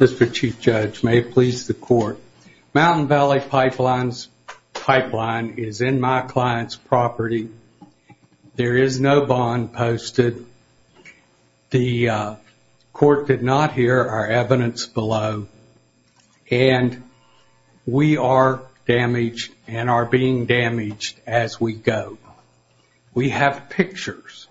Mr. Chief Judge, may it please the Court, Mountain Valley Pipeline is in my client's property. There is no bond posted. The Court did not hear our evidence below and we are damaged and are being damaged as we go. We have pictures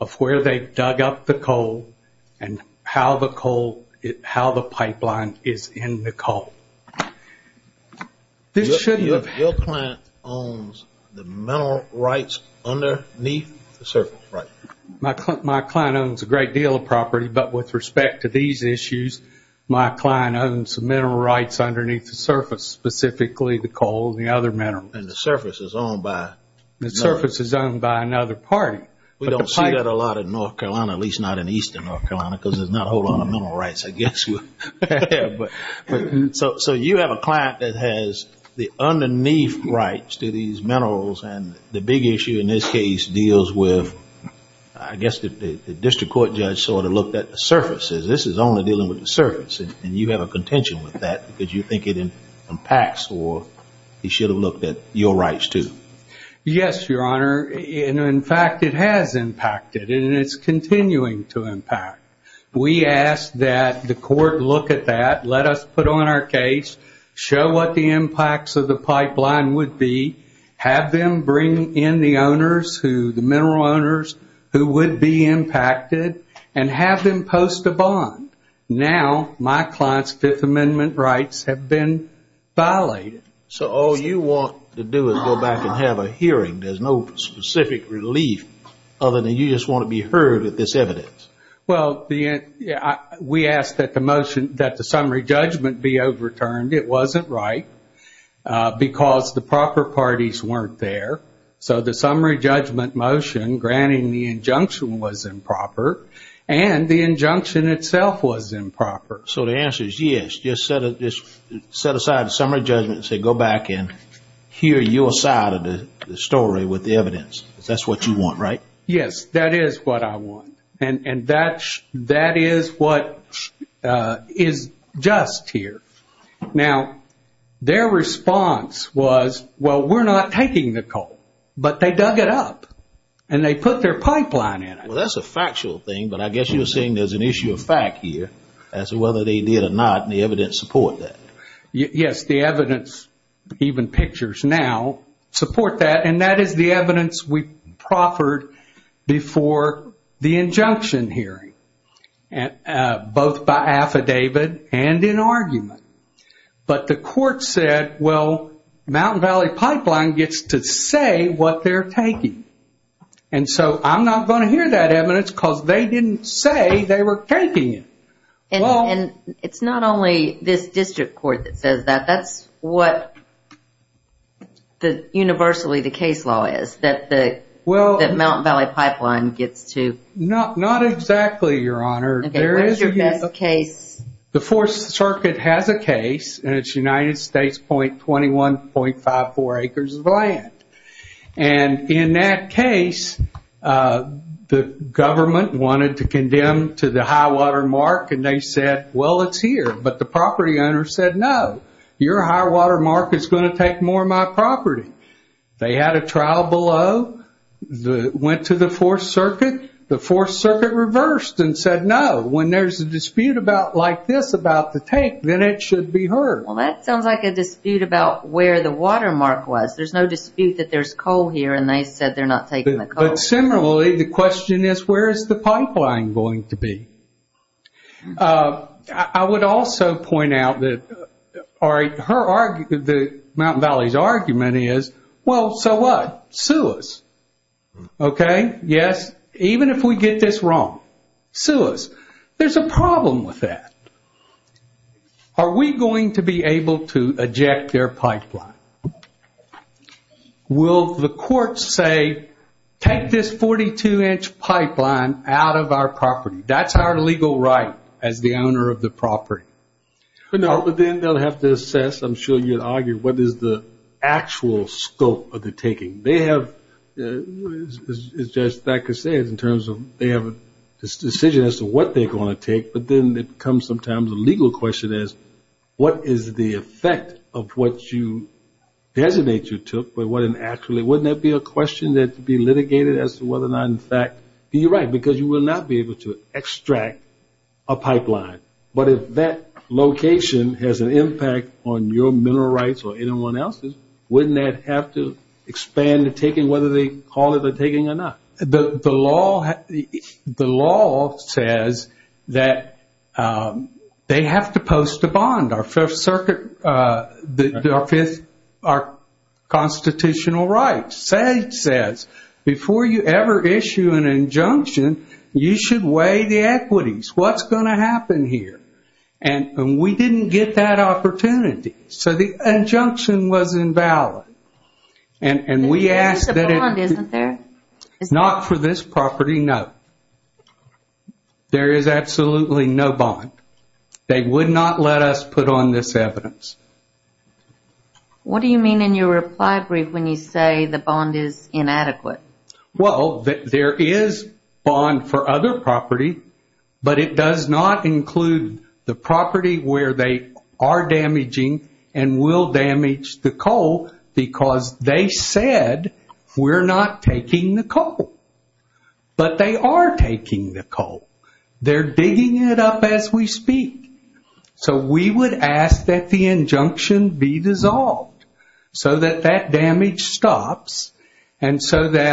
of where they dug up the coal and how the pipeline is in the coal. Your client owns the mineral rights underneath the surface, right? My client owns a great deal of property but with respect to these minerals, specifically the coal and the other minerals. The surface is owned by another party. We don't see that a lot in North Carolina, at least not in eastern North Carolina, because there is not a whole lot of mineral rights, I guess. So you have a client that has the underneath rights to these minerals and the big issue in this case deals with, I guess the District Court Judge sort of looked at the surfaces. This is only dealing with the impacts. He should have looked at your rights too. Yes, Your Honor. In fact, it has impacted and it is continuing to impact. We ask that the Court look at that, let us put on our case, show what the impacts of the pipeline would be, have them bring in the owners, the mineral owners, who would be impacted and have them post a bond. Now my client's Fifth Amendment rights have been violated. So all you want to do is go back and have a hearing. There is no specific relief other than you just want to be heard with this evidence. We ask that the motion, that the summary judgment be overturned. It wasn't right because the proper parties weren't there. So the summary judgment motion granting the injunction was and the injunction itself was improper. So the answer is yes. Just set aside the summary judgment and say go back and hear your side of the story with the evidence. That is what you want, right? Yes, that is what I want. And that is what is just here. Now their response was, well we are not taking the coal. But they dug it up and they put their pipeline in it. Well that is a factual thing, but I guess you are saying there is an issue of fact here as to whether they did or not and the evidence support that. Yes, the evidence, even pictures now, support that. And that is the evidence we proffered before the injunction hearing, both by affidavit and in argument. But the court said, well that evidence, because they didn't say they were taking it. And it is not only this district court that says that. That is what universally the case law is. That the mountain valley pipeline gets to. Not exactly, your honor. What is your best case? The fourth circuit has a case and it is United States point 21.54 acres of land. And in that case, the government wanted to condemn to the high water mark and they said, well it is here. But the property owner said, no, your high water mark is going to take more of my property. They had a trial below, went to the fourth circuit. The fourth circuit reversed and said, no, when there is a dispute about like this about the tank, then it should be heard. Well that sounds like a dispute about where the water mark was. There is no dispute that there is coal here and they said they are not taking the coal. Similarly, the question is where is the pipeline going to be? I would also point out that the mountain valley's argument is, well so what? Sue us. Okay, yes, even if we get this wrong, sue us. There is a problem with that. Are we going to be able to eject their pipeline? Will the court say, take this 42 inch pipeline out of our property. That is our legal right as the owner of the property. No, but then they will have to assess, I am sure you would argue, what is the actual scope of the taking. They have, as Judge Thacker says, they have a decision as to what they are going to take, but then it becomes sometimes a legal question as what is the effect of what you designate you took. Wouldn't that be a question that would be litigated as to whether or not in fact you are right, because you will not be able to extract a pipeline. But if that location has an impact on your mineral rights or anyone else's, wouldn't that have to expand the taking, whether they call it a taking or not? The law says that they have to post a bond, our constitutional rights. SAGE says before you ever issue an injunction, you should weigh the equities. What is going to happen here? And we didn't get that opportunity. So the injunction was invalid. There is a bond, isn't there? Not for this property, no. There is absolutely no bond. They would not let us put on this evidence. What do you mean in your reply brief when you say the bond is inadequate? Well, there is bond for other property, but it does not include the property where they are damaging and will damage the coal because they said we are not taking the coal. But they are taking the coal. They are digging it up as we speak. So we would ask that the injunction be dissolved so that that damage stops You are saying they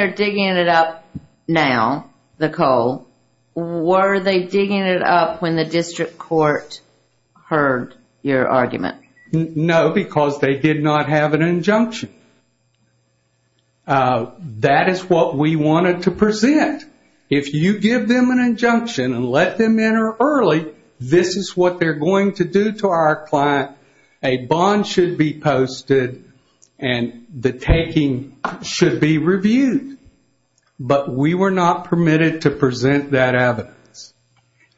are digging it up now, the coal. Were they digging it up when the district court heard your argument? No, because they did not have an injunction. That is what we wanted to present. If you give them an injunction and let them in early, this is what they are going to do to our client. A bond should be posted and the taking should be reviewed. But we were not permitted to present that evidence.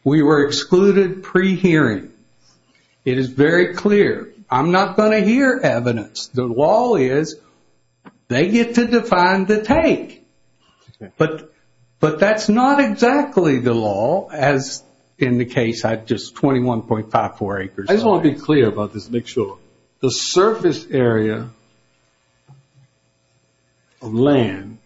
We were excluded pre-hearing. It is very clear. I am not going to hear evidence. The law is they get to define the take. But that is not exactly the law as in the case of 21.54 acres. I just want to be clear about this to make sure. The surface area of land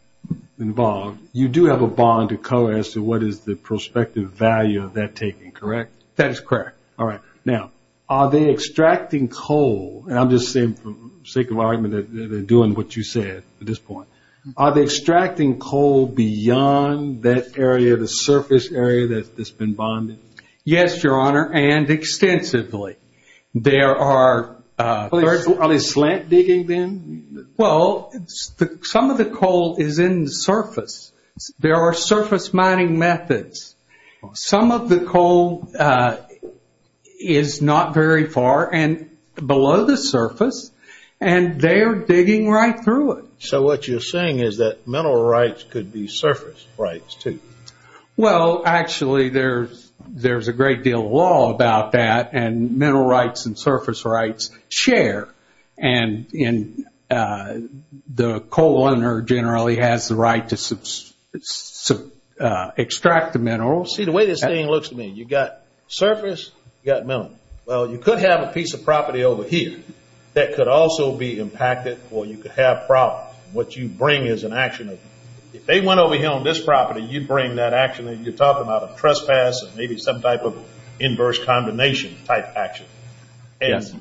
involved, you do have a bond to cover as to what is the prospective value of that taking, correct? That is correct. Now, are they extracting coal? I am just saying for the sake of argument that they are doing what you said at this point. Are they extracting coal beyond that area, the surface area that has been bonded? Yes, Your Honor, and extensively. Are they slant digging then? Well, some of the coal is in the surface. There are surface mining methods. Some of the coal is not very far and below the surface and they are digging right through it. So what you are saying is that mineral rights could be surface rights too? Well, actually, there is a great deal of law about that and mineral rights and surface rights share. And the coal owner generally has the right to extract the mineral. See, the way this thing looks to me, you have got surface, you have got mineral. Well, you could have a piece of property over here that could also be impacted or you could have problems. What you bring is an action. If they went over here on this property, you would bring that action that you are talking about, a trespass or maybe some type of inverse condemnation type action. Yes.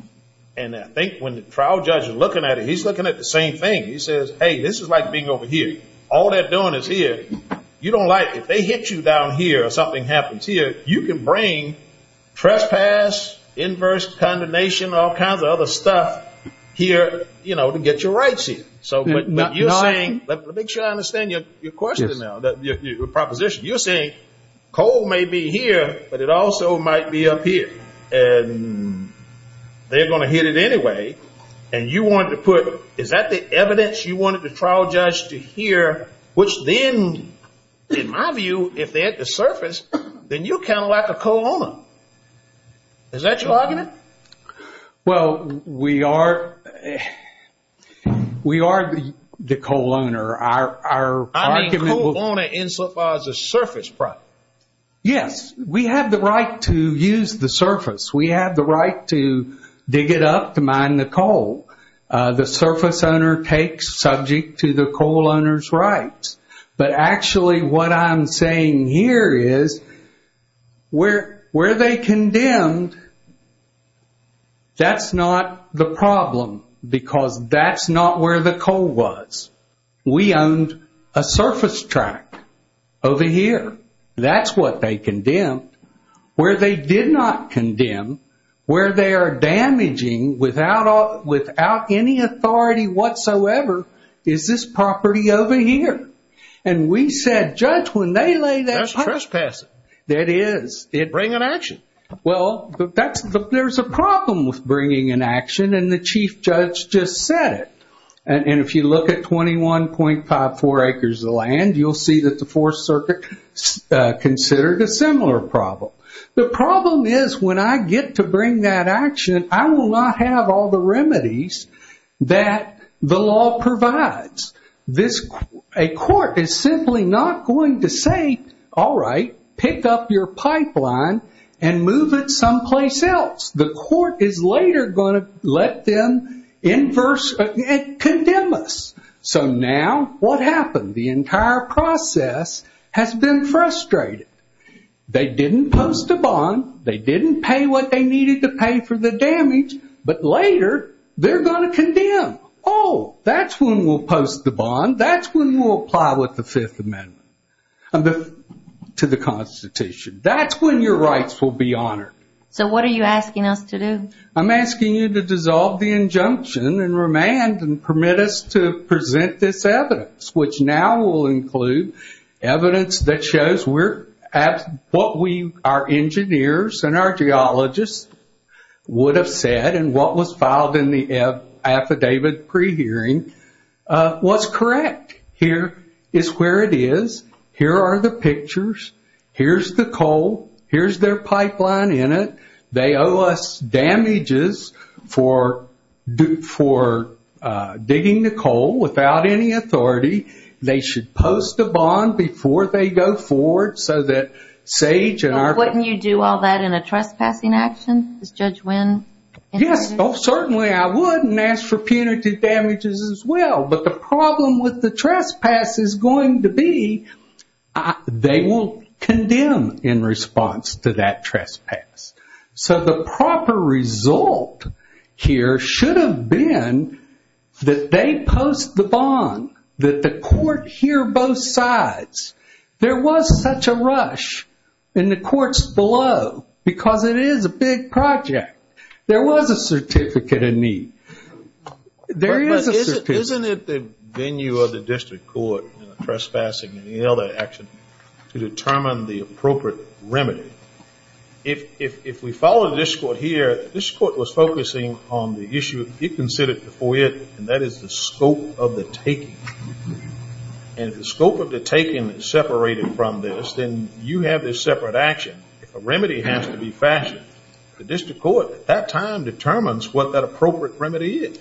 And I think when the trial judge is looking at it, he is looking at the same thing. He says, hey, this is like being over here. All they are doing is here. If they hit you down here or something happens here, you can bring trespass, inverse condemnation, all kinds of other stuff here to get your rights here. But you are saying, let me make sure I understand your question now, your proposition. You are saying coal may be here, but it also might be up here. And they are going to hit it anyway. And you wanted to put, is that the evidence you wanted the trial judge to hear, which then, in my view, if they hit the surface, then you are kind of like a coal owner. Is that your argument? Well, we are the coal owner. I mean, coal owner insulifies a surface property. Yes. We have the right to use the surface. We have the right to dig it up to mine the coal. The surface owner takes subject to the coal owner's rights. But actually what I'm saying here is where they condemned, that's not the problem, because that's not where the coal was. We owned a surface track over here. That's what they condemned. Where they did not condemn, where they are damaging without any authority whatsoever, is this property over here. And we said, judge, when they lay that. That's trespassing. That is. They'd bring an action. Well, there's a problem with bringing an action, and the chief judge just said it. And if you look at 21.54 acres of land, you'll see that the Fourth Circuit considered a similar problem. The problem is when I get to bring that action, I will not have all the remedies that the law provides. A court is simply not going to say, all right, pick up your pipeline and move it someplace else. The court is later going to let them condemn us. So now what happened? The entire process has been frustrated. They didn't post a bond. They didn't pay what they needed to pay for the damage. But later, they're going to condemn. Oh, that's when we'll post the bond. That's when we'll apply what the Fifth Amendment to the Constitution. That's when your rights will be honored. So what are you asking us to do? I'm asking you to dissolve the injunction and remand and permit us to present this evidence, which now will include evidence that shows what our engineers and our geologists would have said and what was filed in the affidavit pre-hearing was correct. Here is where it is. Here are the pictures. Here's the coal. Here's their pipeline in it. They owe us damages for digging the coal without any authority. They should post a bond before they go forward so that SAGE and our ---- Wouldn't you do all that in a trespassing action? Does Judge Wynn ---- Yes, certainly I would and ask for punitive damages as well. But the problem with the trespass is going to be they will condemn in response to that trespass. So the proper result here should have been that they post the bond, that the court hear both sides. There was such a rush in the courts below because it is a big project. There was a certificate of need. Isn't it the venue of the district court trespassing and the other action to determine the appropriate remedy? If we follow the district court here, the district court was focusing on the issue it considered before it, and that is the scope of the taking. And if the scope of the taking is separated from this, then you have this separate action. A remedy has to be fashioned. The district court at that time determines what that appropriate remedy is.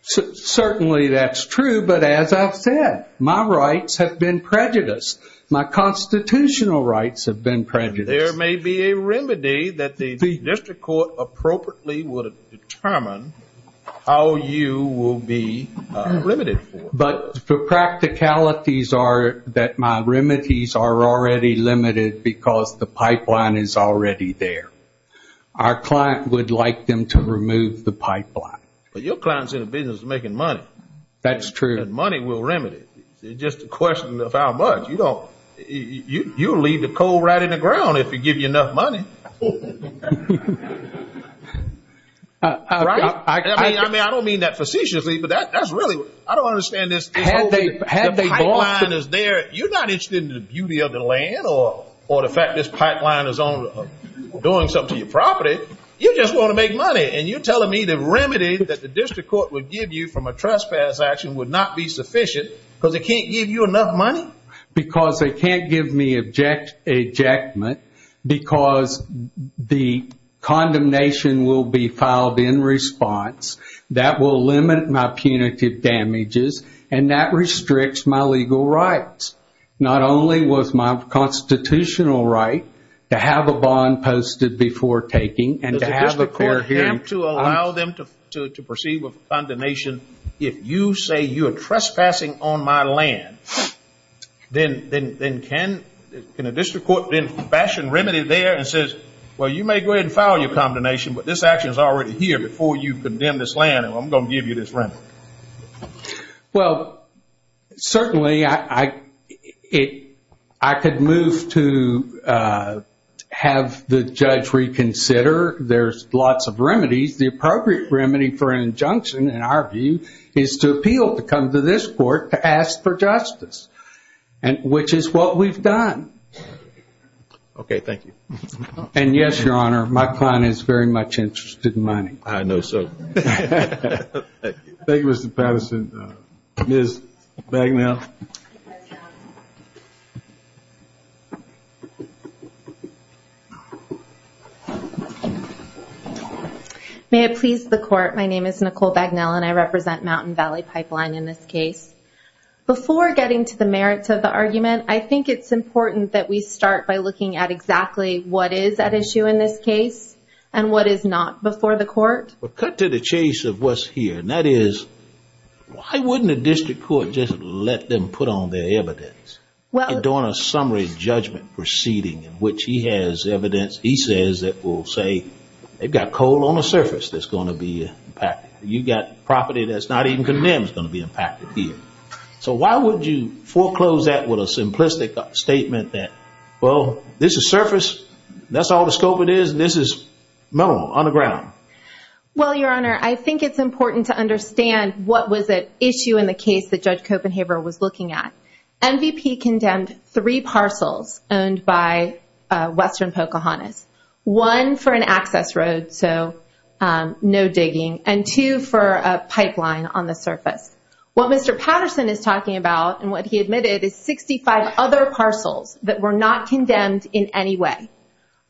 Certainly that's true, but as I've said, my rights have been prejudiced. My constitutional rights have been prejudiced. There may be a remedy that the district court appropriately would determine how you will be limited for. But the practicalities are that my remedies are already limited because the pipeline is already there. Our client would like them to remove the pipeline. But your client is in the business of making money. That's true. And money will remedy. It's just a question of how much. You don't, you'll leave the coal right in the ground if you give you enough money. I don't mean that facetiously, but that's really, I don't understand this whole pipeline is there. You're not interested in the beauty of the land or the fact this pipeline is doing something to your property. You just want to make money, and you're telling me the remedy that the district court would give you from a trespass action would not be sufficient because it can't give you enough money? Because they can't give me ejectment because the condemnation will be filed in response. That will limit my punitive damages, and that restricts my legal rights. Not only was my constitutional right to have a bond posted before taking and to have a fair hearing. Does the district court have to allow them to proceed with condemnation if you say you are trespassing on my land? Then can a district court then fashion remedy there and says, well, you may go ahead and file your condemnation, but this action is already here before you condemn this land, and I'm going to give you this remedy? Well, certainly I could move to have the judge reconsider. There's lots of remedies. The appropriate remedy for an injunction, in our view, is to appeal to come to this court to ask for justice, which is what we've done. Okay, thank you. And yes, Your Honor, my client is very much interested in mining. I know so. Thank you, Mr. Patterson. Ms. Bagnell. May it please the court, my name is Nicole Bagnell, and I represent Mountain Valley Pipeline in this case. Before getting to the merits of the argument, I think it's important that we start by looking at exactly what is at issue in this case and what is not before the court. Cut to the chase of what's here, and that is, why wouldn't a district court just let them put on their evidence? During a summary judgment proceeding in which he has evidence he says that will say, they've got coal on the surface that's going to be impacted. You've got property that's not even condemned that's going to be impacted here. So why would you foreclose that with a simplistic statement that, well, this is surface, that's all the scope it is, and this is metal on the ground? Well, Your Honor, I think it's important to understand what was at issue in the case that Judge Copenhaver was looking at. MVP condemned three parcels owned by Western Pocahontas. One for an access road, so no digging, and two for a pipeline on the surface. What Mr. Patterson is talking about and what he admitted is 65 other parcels that were not condemned in any way.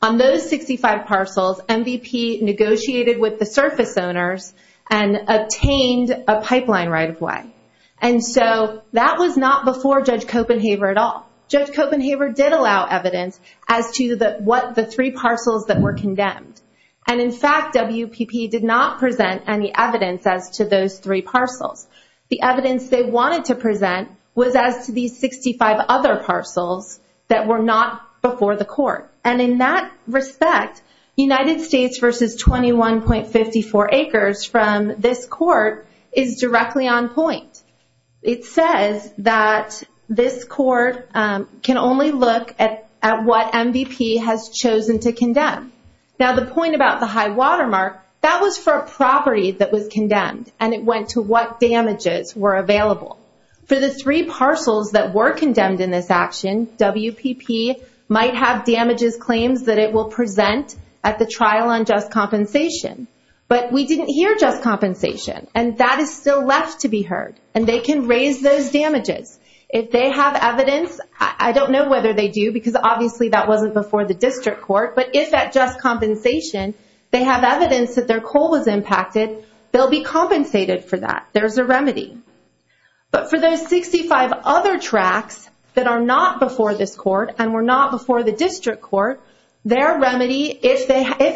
On those 65 parcels, MVP negotiated with the surface owners and obtained a pipeline right-of-way. And so that was not before Judge Copenhaver at all. Judge Copenhaver did allow evidence as to what the three parcels that were condemned. And in fact, WPP did not present any evidence as to those three parcels. The evidence they wanted to present was as to these 65 other parcels that were not before the court. And in that respect, United States versus 21.54 acres from this court is directly on point. It says that this court can only look at what MVP has chosen to condemn. Now the point about the high watermark, that was for a property that was condemned. And it went to what damages were available. For the three parcels that were condemned in this action, WPP might have damages claims that it will present at the trial on just compensation. But we didn't hear just compensation. And that is still left to be heard. And they can raise those damages. If they have evidence, I don't know whether they do because obviously that wasn't before the district court. But if at just compensation, they have evidence that their coal was impacted, they'll be compensated for that. There's a remedy. But for those 65 other tracts that are not before this court and were not before the district court, their remedy, if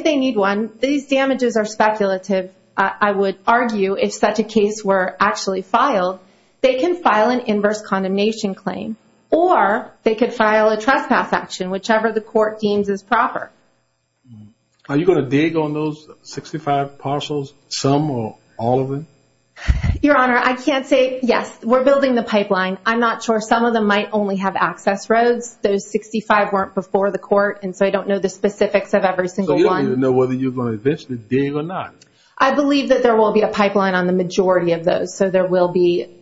they need one, these damages are speculative. I would argue if such a case were actually filed, they can file an inverse condemnation claim. Or they could file a trespass action, whichever the court deems is proper. Are you going to dig on those 65 parcels, some or all of them? Your Honor, I can't say yes. We're building the pipeline. I'm not sure. Some of them might only have access roads. Those 65 weren't before the court. And so I don't know the specifics of every single one. So you don't even know whether you're going to eventually dig or not? I believe that there will be a pipeline on the majority of those. So there will be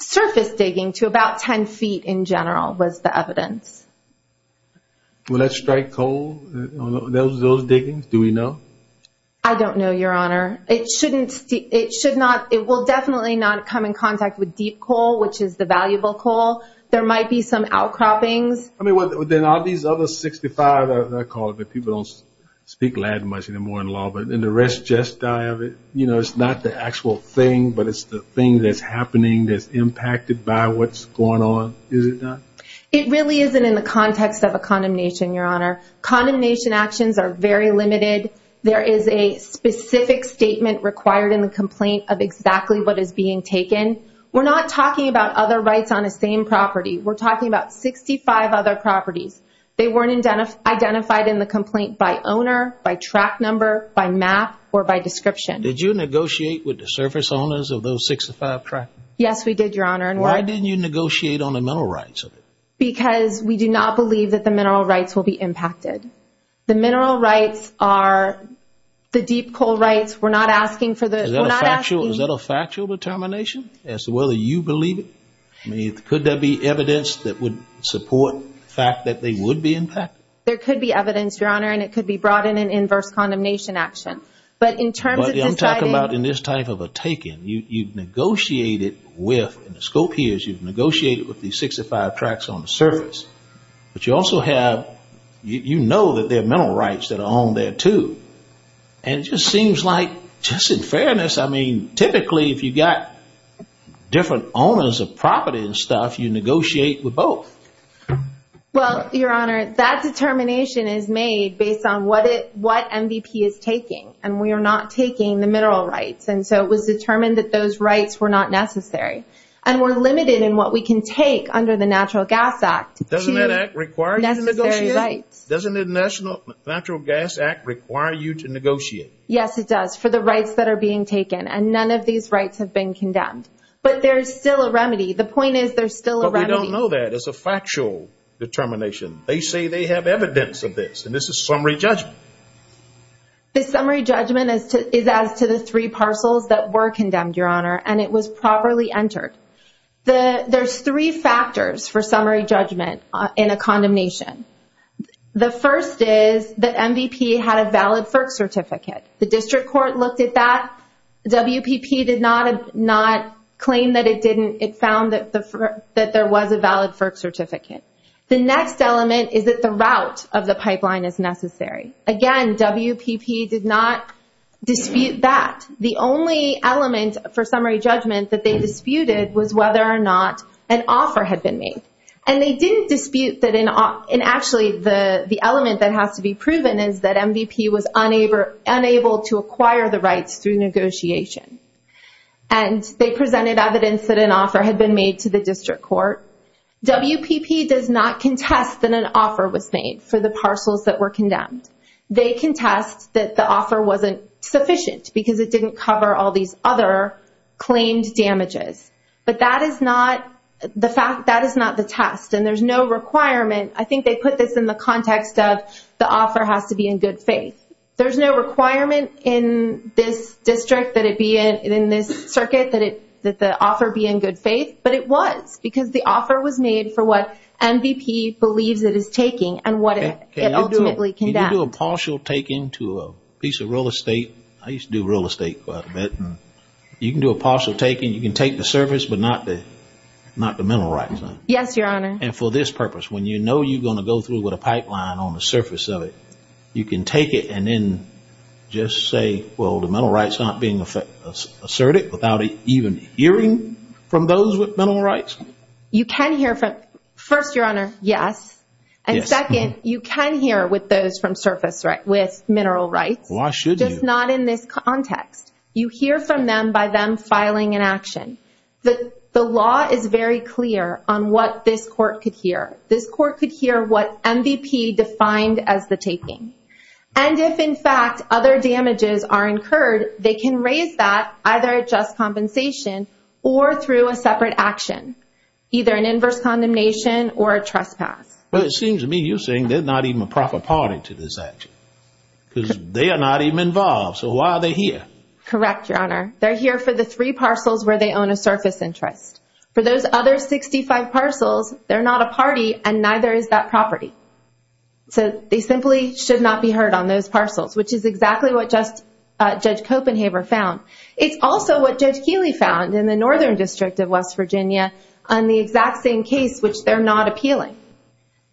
surface digging to about 10 feet in general was the evidence. Will that strike coal on those diggings? Do we know? I don't know, Your Honor. It will definitely not come in contact with deep coal, which is the valuable coal. There might be some outcroppings. Then all these other 65, I call it, but people don't speak Latin much anymore in law, but then the rest just die of it. It's not the actual thing, but it's the thing that's happening that's impacted by what's going on, is it not? It really isn't in the context of a condemnation, Your Honor. Condemnation actions are very limited. There is a specific statement required in the complaint of exactly what is being taken. We're not talking about other rights on the same property. We're talking about 65 other properties. They weren't identified in the complaint by owner, by track number, by map, or by description. Did you negotiate with the surface owners of those 65 tracks? Yes, we did, Your Honor. Why didn't you negotiate on the mineral rights? Because we do not believe that the mineral rights will be impacted. The mineral rights are the deep coal rights. Is that a factual determination as to whether you believe it? I mean, could there be evidence that would support the fact that they would be impacted? There could be evidence, Your Honor, and it could be brought in an inverse condemnation action. But in terms of deciding— I'm talking about in this type of a taking. You've negotiated with, and the scope here is you've negotiated with these 65 tracks on the surface, but you also have, you know that there are mineral rights that are on there, too. And it just seems like, just in fairness, I mean, typically if you've got different owners of property and stuff, you negotiate with both. Well, Your Honor, that determination is made based on what MVP is taking, and we are not taking the mineral rights. And so it was determined that those rights were not necessary. And we're limited in what we can take under the Natural Gas Act. Necessary rights. Doesn't the Natural Gas Act require you to negotiate? Yes, it does, for the rights that are being taken. And none of these rights have been condemned. But there's still a remedy. The point is there's still a remedy. But we don't know that. It's a factual determination. They say they have evidence of this, and this is summary judgment. The summary judgment is as to the three parcels that were condemned, Your Honor, and it was properly entered. There's three factors for summary judgment in a condemnation. The first is that MVP had a valid FERC certificate. The district court looked at that. WPP did not claim that it didn't. It found that there was a valid FERC certificate. The next element is that the route of the pipeline is necessary. Again, WPP did not dispute that. The only element for summary judgment that they disputed was whether or not an offer had been made. And they didn't dispute that. And actually the element that has to be proven is that MVP was unable to acquire the rights through negotiation. And they presented evidence that an offer had been made to the district court. WPP does not contest that an offer was made for the parcels that were condemned. They contest that the offer wasn't sufficient because it didn't cover all these other claimed damages. But that is not the test. And there's no requirement. I think they put this in the context of the offer has to be in good faith. There's no requirement in this district, in this circuit, that the offer be in good faith. But it was because the offer was made for what MVP believes it is taking and what it ultimately condemned. Can you do a partial take into a piece of real estate? I used to do real estate quite a bit. You can do a partial take and you can take the surface but not the mineral rights? Yes, Your Honor. And for this purpose, when you know you're going to go through with a pipeline on the surface of it, you can take it and then just say, well, the mineral rights aren't being asserted without even hearing from those with mineral rights? You can hear from, first, Your Honor, yes. And second, you can hear with those from surface rights, with mineral rights. Why should you? Just not in this context. You hear from them by them filing an action. The law is very clear on what this court could hear. This court could hear what MVP defined as the taking. And if, in fact, other damages are incurred, they can raise that either at just compensation or through a separate action, either an inverse condemnation or a trespass. Well, it seems to me you're saying they're not even a proper party to this action because they are not even involved. So why are they here? Correct, Your Honor. They're here for the three parcels where they own a surface interest. For those other 65 parcels, they're not a party and neither is that property. So they simply should not be heard on those parcels, which is exactly what Judge Copenhaver found. It's also what Judge Keeley found in the Northern District of West Virginia on the exact same case, which they're not appealing.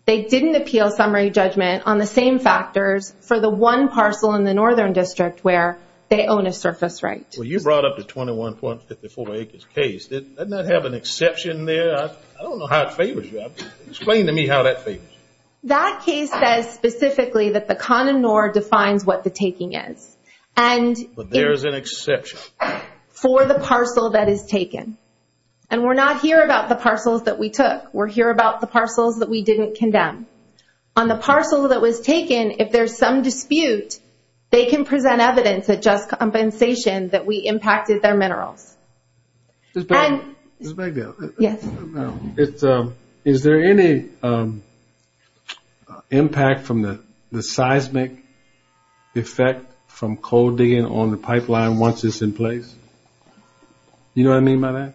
They didn't appeal summary judgment on the same factors for the one parcel in the Northern District where they own a surface right. Well, you brought up the 21.54 acres case. Doesn't that have an exception there? I don't know how it favors you. Explain to me how that favors you. That case says specifically that the con and nor defines what the taking is. But there is an exception. For the parcel that is taken. And we're not here about the parcels that we took. We're here about the parcels that we didn't condemn. On the parcel that was taken, if there's some dispute, they can present evidence at just compensation that we impacted their minerals. Ms. Bagdell. Yes. Is there any impact from the seismic effect from coal digging on the pipeline once it's in place? You know what I mean by that?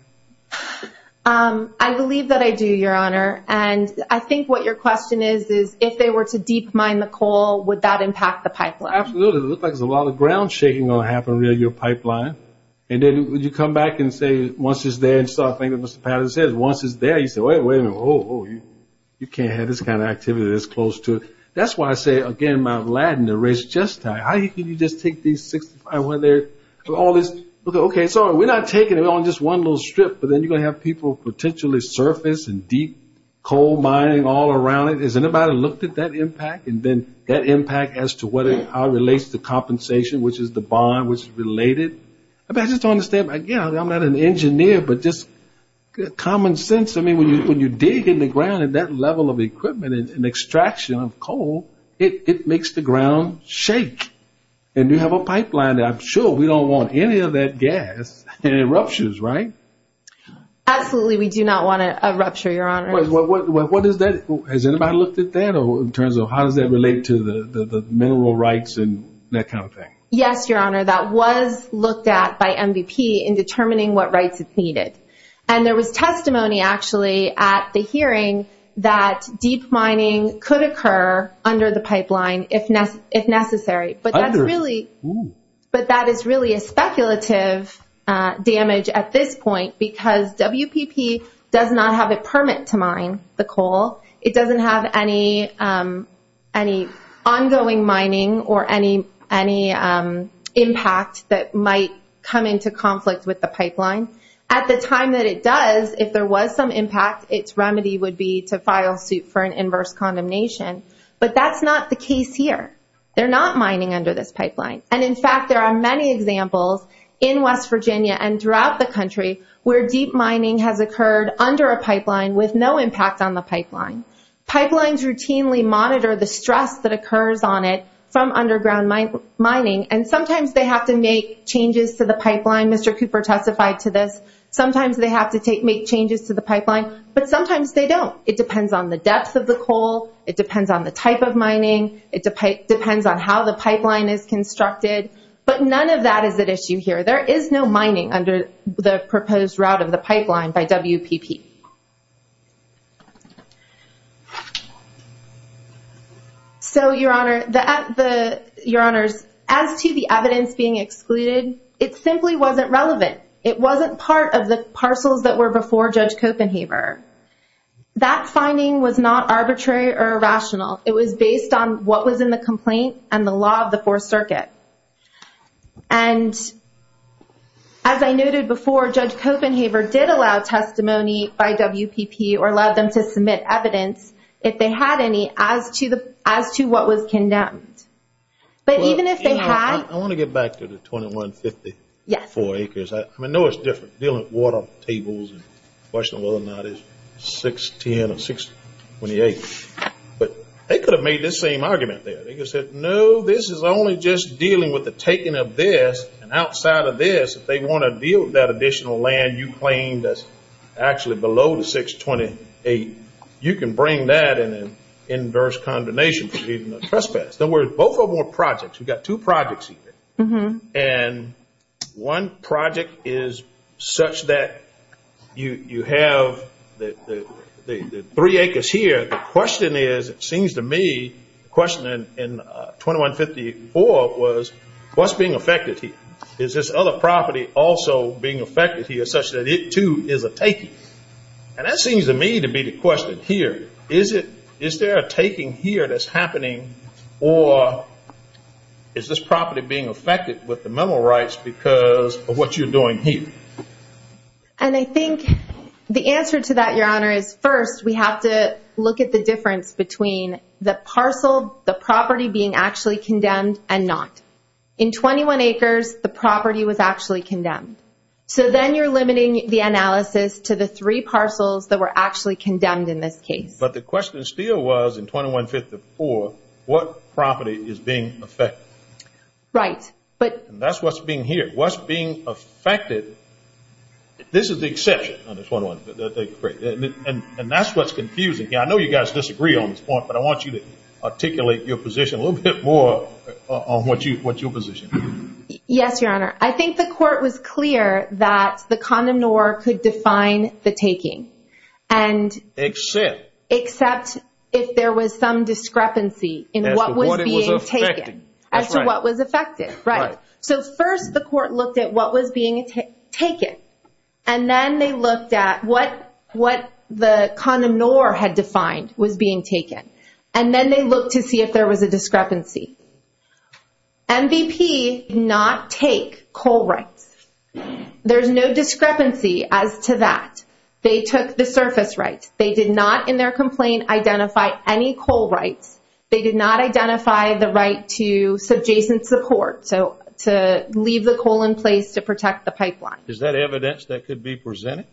I believe that I do, Your Honor. And I think what your question is, is if they were to deep mine the coal, would that impact the pipeline? Absolutely. It looks like there's a lot of ground shaking going to happen near your pipeline. And then would you come back and say once it's there and start thinking, as Mr. Patterson said, once it's there, you say, wait a minute, oh, you can't have this kind of activity that's close to it. That's why I say, again, Mount Ladin, the race is just tight. How can you just take these 65, all this, okay, so we're not taking it on just one little strip, but then you're going to have people potentially surface and deep coal mining all around it. Has anybody looked at that impact and then that impact as to how it relates to compensation, which is the bond, which is related? I'm not an engineer, but just common sense, I mean, when you dig in the ground at that level of equipment and extraction of coal, it makes the ground shake. And you have a pipeline there. I'm sure we don't want any of that gas and it ruptures, right? Absolutely. We do not want a rupture, Your Honor. What is that? Has anybody looked at that in terms of how does that relate to the mineral rights and that kind of thing? Yes, Your Honor. That was looked at by MVP in determining what rights it needed. And there was testimony actually at the hearing that deep mining could occur under the pipeline if necessary. But that is really a speculative damage at this point because WPP does not have a permit to mine the coal. It doesn't have any ongoing mining or any impact that might come into conflict with the pipeline. At the time that it does, if there was some impact, its remedy would be to file suit for an inverse condemnation. But that's not the case here. They're not mining under this pipeline. And, in fact, there are many examples in West Virginia and throughout the country where deep mining has occurred under a pipeline with no impact on the pipeline. Pipelines routinely monitor the stress that occurs on it from underground mining. And sometimes they have to make changes to the pipeline. Mr. Cooper testified to this. Sometimes they have to make changes to the pipeline, but sometimes they don't. It depends on the depth of the coal. It depends on the type of mining. It depends on how the pipeline is constructed. But none of that is at issue here. There is no mining under the proposed route of the pipeline by WPP. So, Your Honor, as to the evidence being excluded, it simply wasn't relevant. It wasn't part of the parcels that were before Judge Copenhaver. That finding was not arbitrary or irrational. It was based on what was in the complaint and the law of the Fourth Circuit. And, as I noted before, Judge Copenhaver did allow testimony by WPP or allowed them to submit evidence, if they had any, as to what was condemned. But even if they had... I want to get back to the 2154 acres. I know it's different, dealing with water tables, and the question of whether or not it's 610 or 628. But they could have made this same argument there. They could have said, no, this is only just dealing with the taking of this. And outside of this, if they want to deal with that additional land you claimed that's actually below the 628, you can bring that in an inverse condemnation for trespass. Now, we're both on one project. We've got two projects here. And one project is such that you have the three acres here. The question is, it seems to me, the question in 2154 was, what's being affected here? Is this other property also being affected here such that it, too, is a taking? And that seems to me to be the question here. Is there a taking here that's happening, or is this property being affected with the memo rights because of what you're doing here? And I think the answer to that, Your Honor, is first we have to look at the difference between the parcel, the property being actually condemned, and not. In 21 acres, the property was actually condemned. So then you're limiting the analysis to the three parcels that were actually condemned in this case. But the question still was, in 2154, what property is being affected? Right. And that's what's being here. What's being affected, this is the exception on the 21, and that's what's confusing. I know you guys disagree on this point, but I want you to articulate your position a little bit more on what your position is. Yes, Your Honor. I think the court was clear that the condom nor could define the taking. Except? Except if there was some discrepancy in what was being taken, as to what was affected. Right. So first the court looked at what was being taken, and then they looked at what the condom nor had defined was being taken. And then they looked to see if there was a discrepancy. MVP did not take coal rights. There's no discrepancy as to that. They took the surface rights. They did not, in their complaint, identify any coal rights. They did not identify the right to subjacent support, so to leave the coal in place to protect the pipeline. Is that evidence that could be presented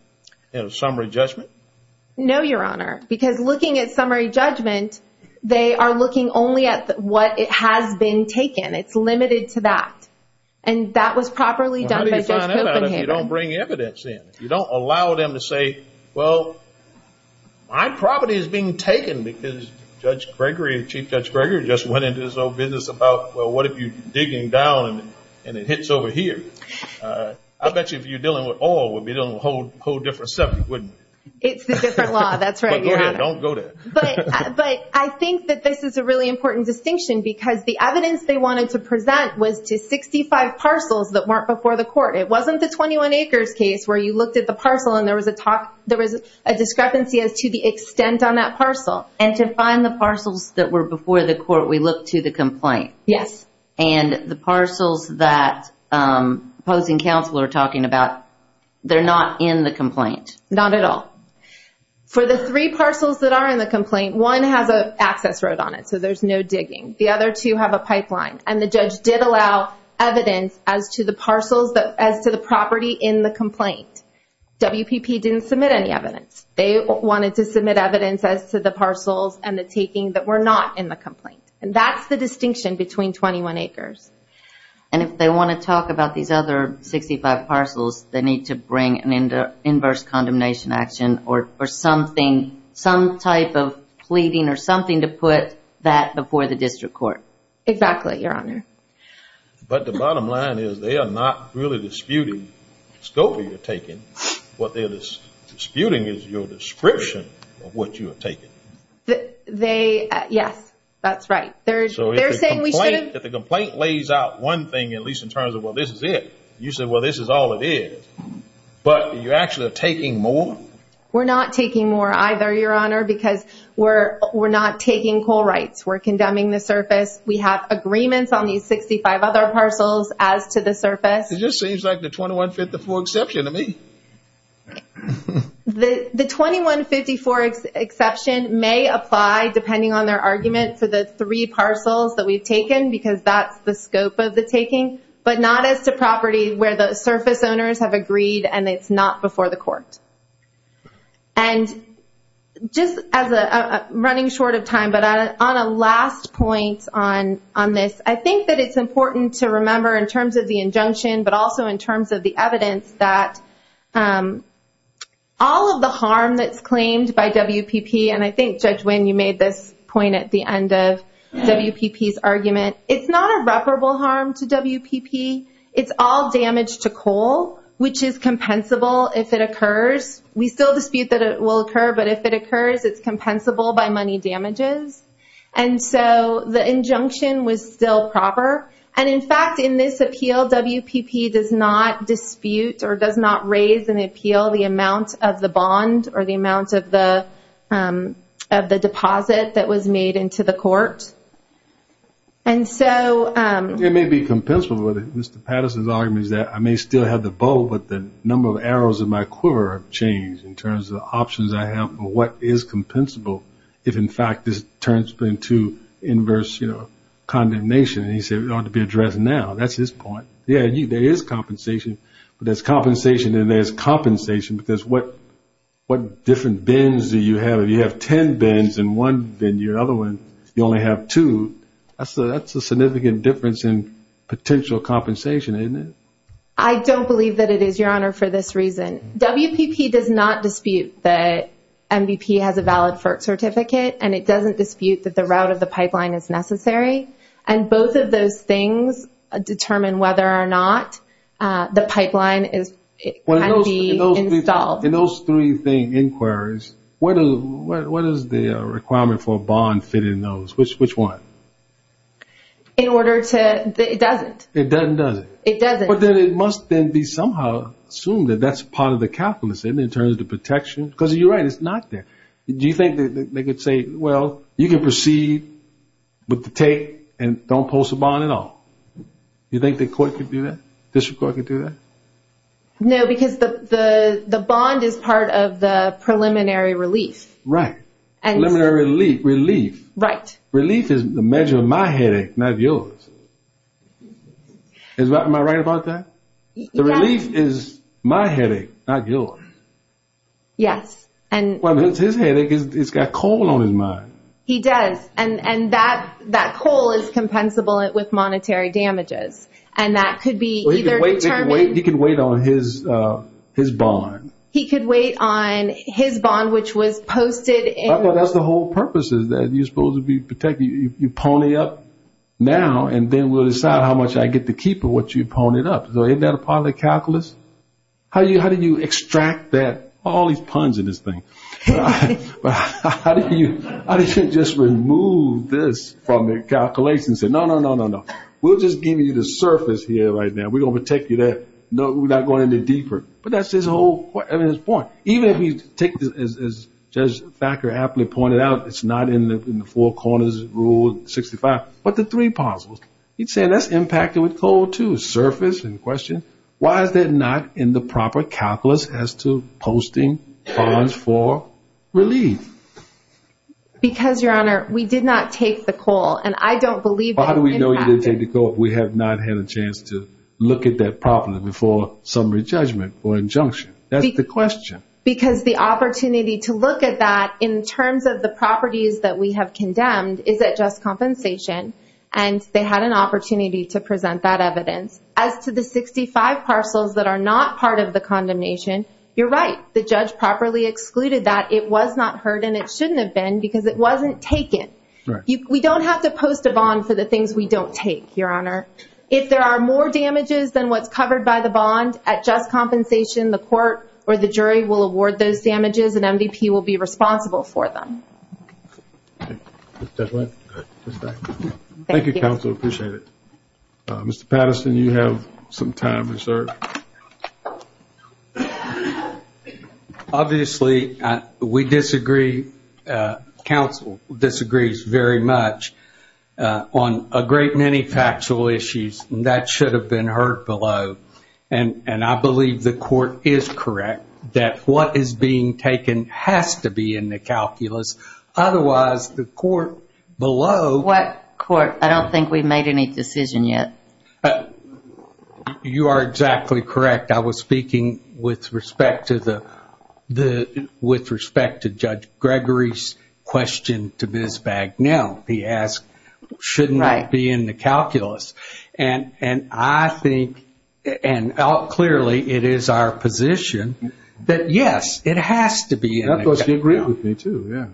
in a summary judgment? No, Your Honor. Because looking at summary judgment, they are looking only at what has been taken. It's limited to that. And that was properly done by Judge Copenhagen. You don't bring evidence in. You don't allow them to say, well, my property is being taken because Judge Gregory, Chief Judge Gregory, just went into his own business about, well, what if you're digging down and it hits over here? I bet you if you're dealing with oil, we'd be dealing with a whole different subject, wouldn't we? It's a different law. That's right, Your Honor. But go ahead. Don't go there. But I think that this is a really important distinction because the evidence they wanted to present was to 65 parcels that weren't before the court. It wasn't the 21 acres case where you looked at the parcel and there was a discrepancy as to the extent on that parcel. And to find the parcels that were before the court, we looked to the complaint. Yes. And the parcels that opposing counsel are talking about, they're not in the complaint. Not at all. For the three parcels that are in the complaint, one has an access road on it, so there's no digging. The other two have a pipeline. And the judge did allow evidence as to the parcels, as to the property in the complaint. WPP didn't submit any evidence. They wanted to submit evidence as to the parcels and the taking that were not in the complaint. And that's the distinction between 21 acres. And if they want to talk about these other 65 parcels, they need to bring an inverse condemnation action or something, some type of pleading or something to put that before the district court. Exactly, Your Honor. But the bottom line is they are not really disputing the scope of your taking. What they're disputing is your description of what you are taking. They, yes, that's right. If the complaint lays out one thing, at least in terms of, well, this is it, you say, well, this is all it is. But you're actually taking more? We're not taking more either, Your Honor, because we're not taking coal rights. We're condemning the surface. We have agreements on these 65 other parcels as to the surface. It just seems like the 2154 exception to me. The 2154 exception may apply depending on their argument for the three parcels that we've taken because that's the scope of the taking, but not as to property where the surface owners have agreed and it's not before the court. And just running short of time, but on a last point on this, I think that it's important to remember in terms of the injunction, but also in terms of the evidence that all of the harm that's claimed by WPP, and I think, Judge Wynn, you made this point at the end of WPP's argument. It's not irreparable harm to WPP. It's all damage to coal, which is compensable if it occurs. We still dispute that it will occur, but if it occurs, it's compensable by money damages. And so the injunction was still proper. And, in fact, in this appeal, WPP does not dispute or does not raise an appeal the amount of the bond or the amount of the deposit that was made into the court. It may be compensable, but Mr. Patterson's argument is that I may still have the bull, but the number of arrows in my quiver have changed in terms of the options I have and what is compensable if, in fact, this turns into inverse condemnation. And he said it ought to be addressed now. That's his point. Yeah, there is compensation, but there's compensation and there's compensation, because what different bins do you have? If you have ten bins and one bin, your other one, you only have two. That's a significant difference in potential compensation, isn't it? I don't believe that it is, Your Honor, for this reason. WPP does not dispute that MVP has a valid FERT certificate, and it doesn't dispute that the route of the pipeline is necessary. And both of those things determine whether or not the pipeline can be installed. In those three inquiries, what is the requirement for a bond fit in those? Which one? It doesn't. It doesn't. It doesn't. I assume that that's part of the calculus in terms of the protection. Because you're right, it's not there. Do you think they could say, well, you can proceed with the tape and don't post a bond at all? Do you think the court could do that, district court could do that? No, because the bond is part of the preliminary relief. Right. Preliminary relief. Right. Relief is the measure of my headache, not yours. Am I right about that? The relief is my headache, not yours. Yes. Well, it's his headache. It's got coal on his mind. He does. And that coal is compensable with monetary damages. And that could be either determined. He could wait on his bond. He could wait on his bond, which was posted. Well, that's the whole purpose is that you're supposed to be protecting. You pony up now, and then we'll decide how much I get to keep or what you pony up. Isn't that a part of the calculus? How do you extract that? All these puns in this thing. How do you just remove this from the calculations and say, no, no, no, no, no. We'll just give you the surface here right now. We're going to protect you there. We're not going any deeper. But that's his whole point. Even if you take this, as Judge Thacker aptly pointed out, it's not in the four corners rule 65, but the three puzzles. He's saying that's impacted with coal, too, surface and question. Why is that not in the proper calculus as to posting bonds for relief? Because, Your Honor, we did not take the coal. And I don't believe that it impacted. How do we know you didn't take the coal if we have not had a chance to look at that properly before summary judgment or injunction? That's the question. Because the opportunity to look at that in terms of the properties that we have condemned is at just compensation, and they had an opportunity to present that evidence. As to the 65 parcels that are not part of the condemnation, you're right. The judge properly excluded that. It was not heard, and it shouldn't have been because it wasn't taken. We don't have to post a bond for the things we don't take, Your Honor. If there are more damages than what's covered by the bond at just compensation, the court or the jury will award those damages, and MVP will be responsible for them. Thank you. Thank you, counsel. I appreciate it. Mr. Patterson, you have some time reserved. Obviously, we disagree. Counsel disagrees very much on a great many factual issues, and that should have been heard below. I believe the court is correct that what is being taken has to be in the calculus. Otherwise, the court below— What court? I don't think we've made any decision yet. You are exactly correct. I was speaking with respect to Judge Gregory's question to Ms. Bagnell. He asked, shouldn't that be in the calculus? I think, and clearly it is our position, that yes, it has to be in the calculus. I thought she agreed with me, too.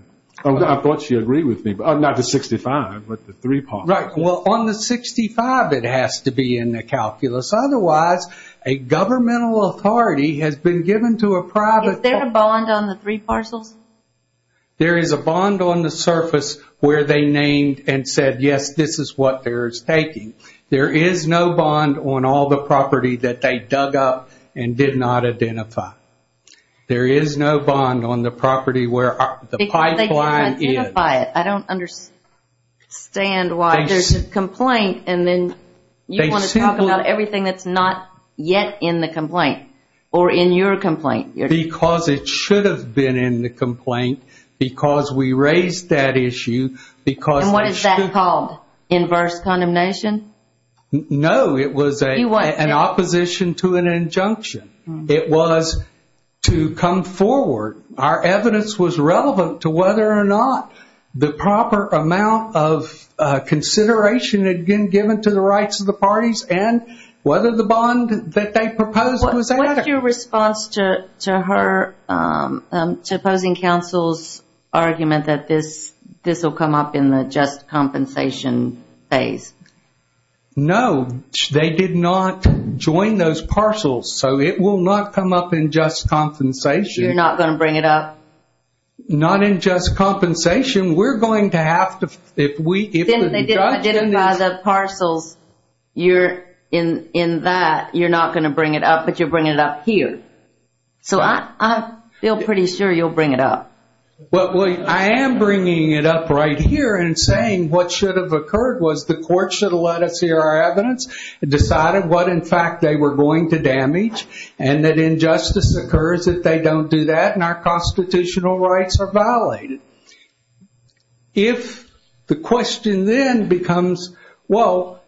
I thought she agreed with me. Not the 65, but the three parcels. Right. Well, on the 65, it has to be in the calculus. Otherwise, a governmental authority has been given to a private— Is there a bond on the three parcels? There is a bond on the surface where they named and said, yes, this is what they're taking. There is no bond on all the property that they dug up and did not identify. There is no bond on the property where the pipeline is. Because they didn't identify it. I don't understand why there's a complaint, and then you want to talk about everything that's not yet in the complaint, or in your complaint. Because it should have been in the complaint. Because we raised that issue. And what is that called? Inverse condemnation? No, it was an opposition to an injunction. It was to come forward. Our evidence was relevant to whether or not the proper amount of consideration had been given to the rights of the parties, and whether the bond that they proposed was adequate. What's your response to her—to opposing counsel's argument that this will come up in the just compensation phase? No, they did not join those parcels, so it will not come up in just compensation. You're not going to bring it up? Not in just compensation. We're going to have to— They didn't buy the parcels. In that, you're not going to bring it up, but you're bringing it up here. So I feel pretty sure you'll bring it up. Well, I am bringing it up right here and saying what should have occurred was the court should have let us hear our evidence, decided what, in fact, they were going to damage, and that injustice occurs if they don't do that, and our constitutional rights are violated. If the question then becomes, well,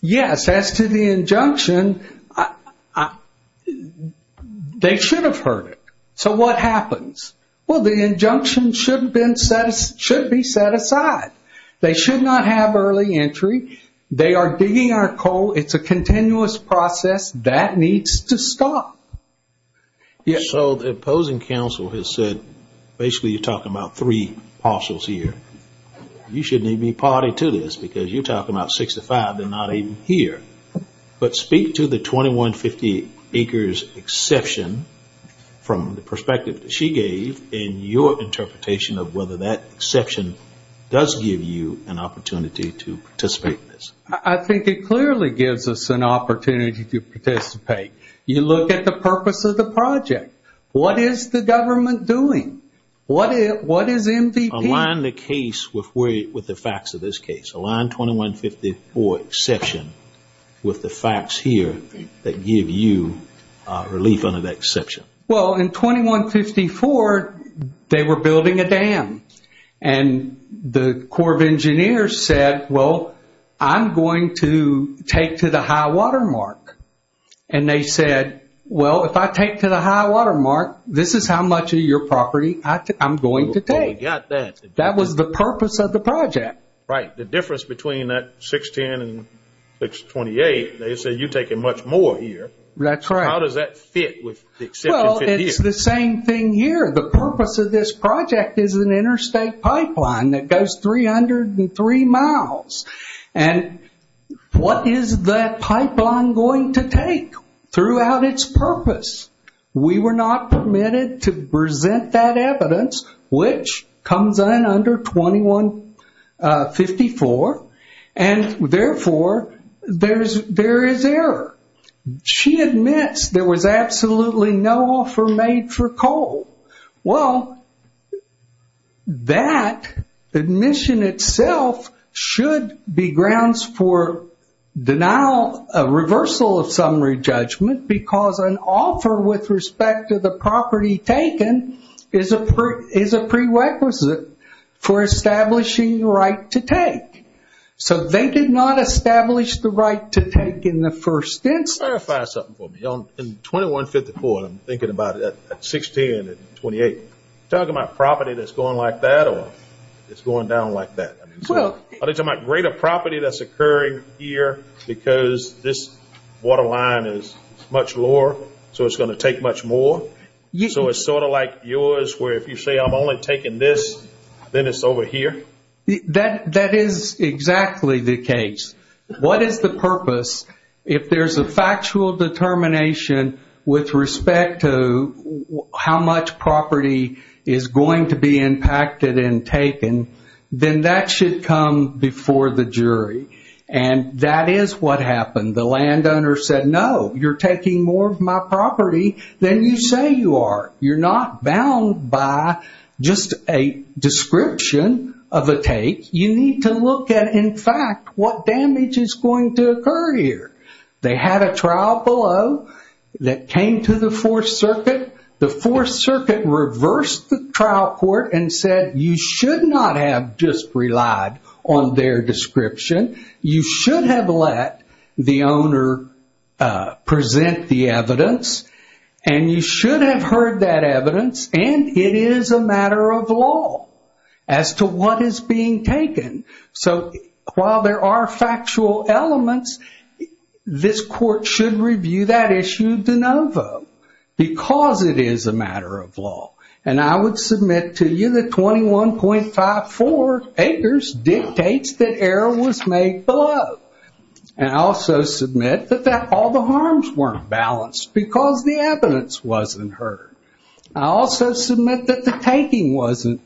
yes, as to the injunction, they should have heard it. So what happens? Well, the injunction should be set aside. They should not have early entry. They are digging our coal. It's a continuous process. That needs to stop. So the opposing counsel has said basically you're talking about three parcels here. You shouldn't even be party to this because you're talking about 65. They're not even here. But speak to the 2150 acres exception from the perspective that she gave and your interpretation of whether that exception does give you an opportunity to participate in this. I think it clearly gives us an opportunity to participate. You look at the purpose of the project. What is the government doing? What is MVP? Align the case with the facts of this case. Align 2154 exception with the facts here that give you relief under that exception. Well, in 2154, they were building a dam, and the Corps of Engineers said, well, I'm going to take to the high water mark. And they said, well, if I take to the high water mark, this is how much of your property I'm going to take. That was the purpose of the project. Right. The difference between that 610 and 628, they said you're taking much more here. That's right. How does that fit with the exception 50 acres? Well, it's the same thing here. The purpose of this project is an interstate pipeline that goes 303 miles. And what is that pipeline going to take throughout its purpose? We were not permitted to present that evidence, which comes in under 2154, and, therefore, there is error. She admits there was absolutely no offer made for coal. Well, that admission itself should be grounds for denial of reversal of summary judgment because an offer with respect to the property taken is a prerequisite for establishing the right to take. So they did not establish the right to take in the first instance. Clarify something for me. In 2154, I'm thinking about 610 and 628. Are you talking about property that's going like that or it's going down like that? I'm talking about greater property that's occurring here because this water line is much lower, so it's going to take much more. So it's sort of like yours where if you say I'm only taking this, then it's over here? That is exactly the case. What is the purpose? If there's a factual determination with respect to how much property is going to be impacted and taken, then that should come before the jury, and that is what happened. The landowner said, no, you're taking more of my property than you say you are. You're not bound by just a description of a take. You need to look at, in fact, what damage is going to occur here. They had a trial below that came to the Fourth Circuit. The Fourth Circuit reversed the trial court and said you should not have just relied on their description. You should have heard that evidence, and it is a matter of law as to what is being taken. So while there are factual elements, this court should review that issue de novo because it is a matter of law. I would submit to you that 21.54 acres dictates that error was made below. And I also submit that all the harms weren't balanced because the evidence wasn't heard. I also submit that the taking wasn't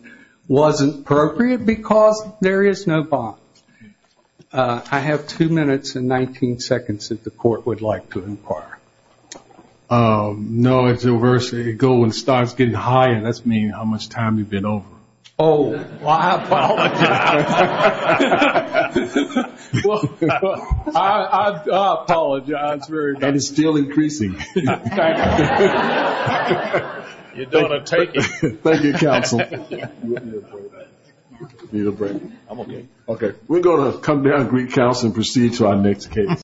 appropriate because there is no bond. I have two minutes and 19 seconds that the court would like to inquire. No, it's the reverse. It goes and starts getting higher. That means how much time you've been over. Oh, I apologize. Well, I apologize. That is still increasing. You're doing a take. Thank you, counsel. You need a break. I'm okay. Okay. We're going to come down and greet counsel and proceed to our next case.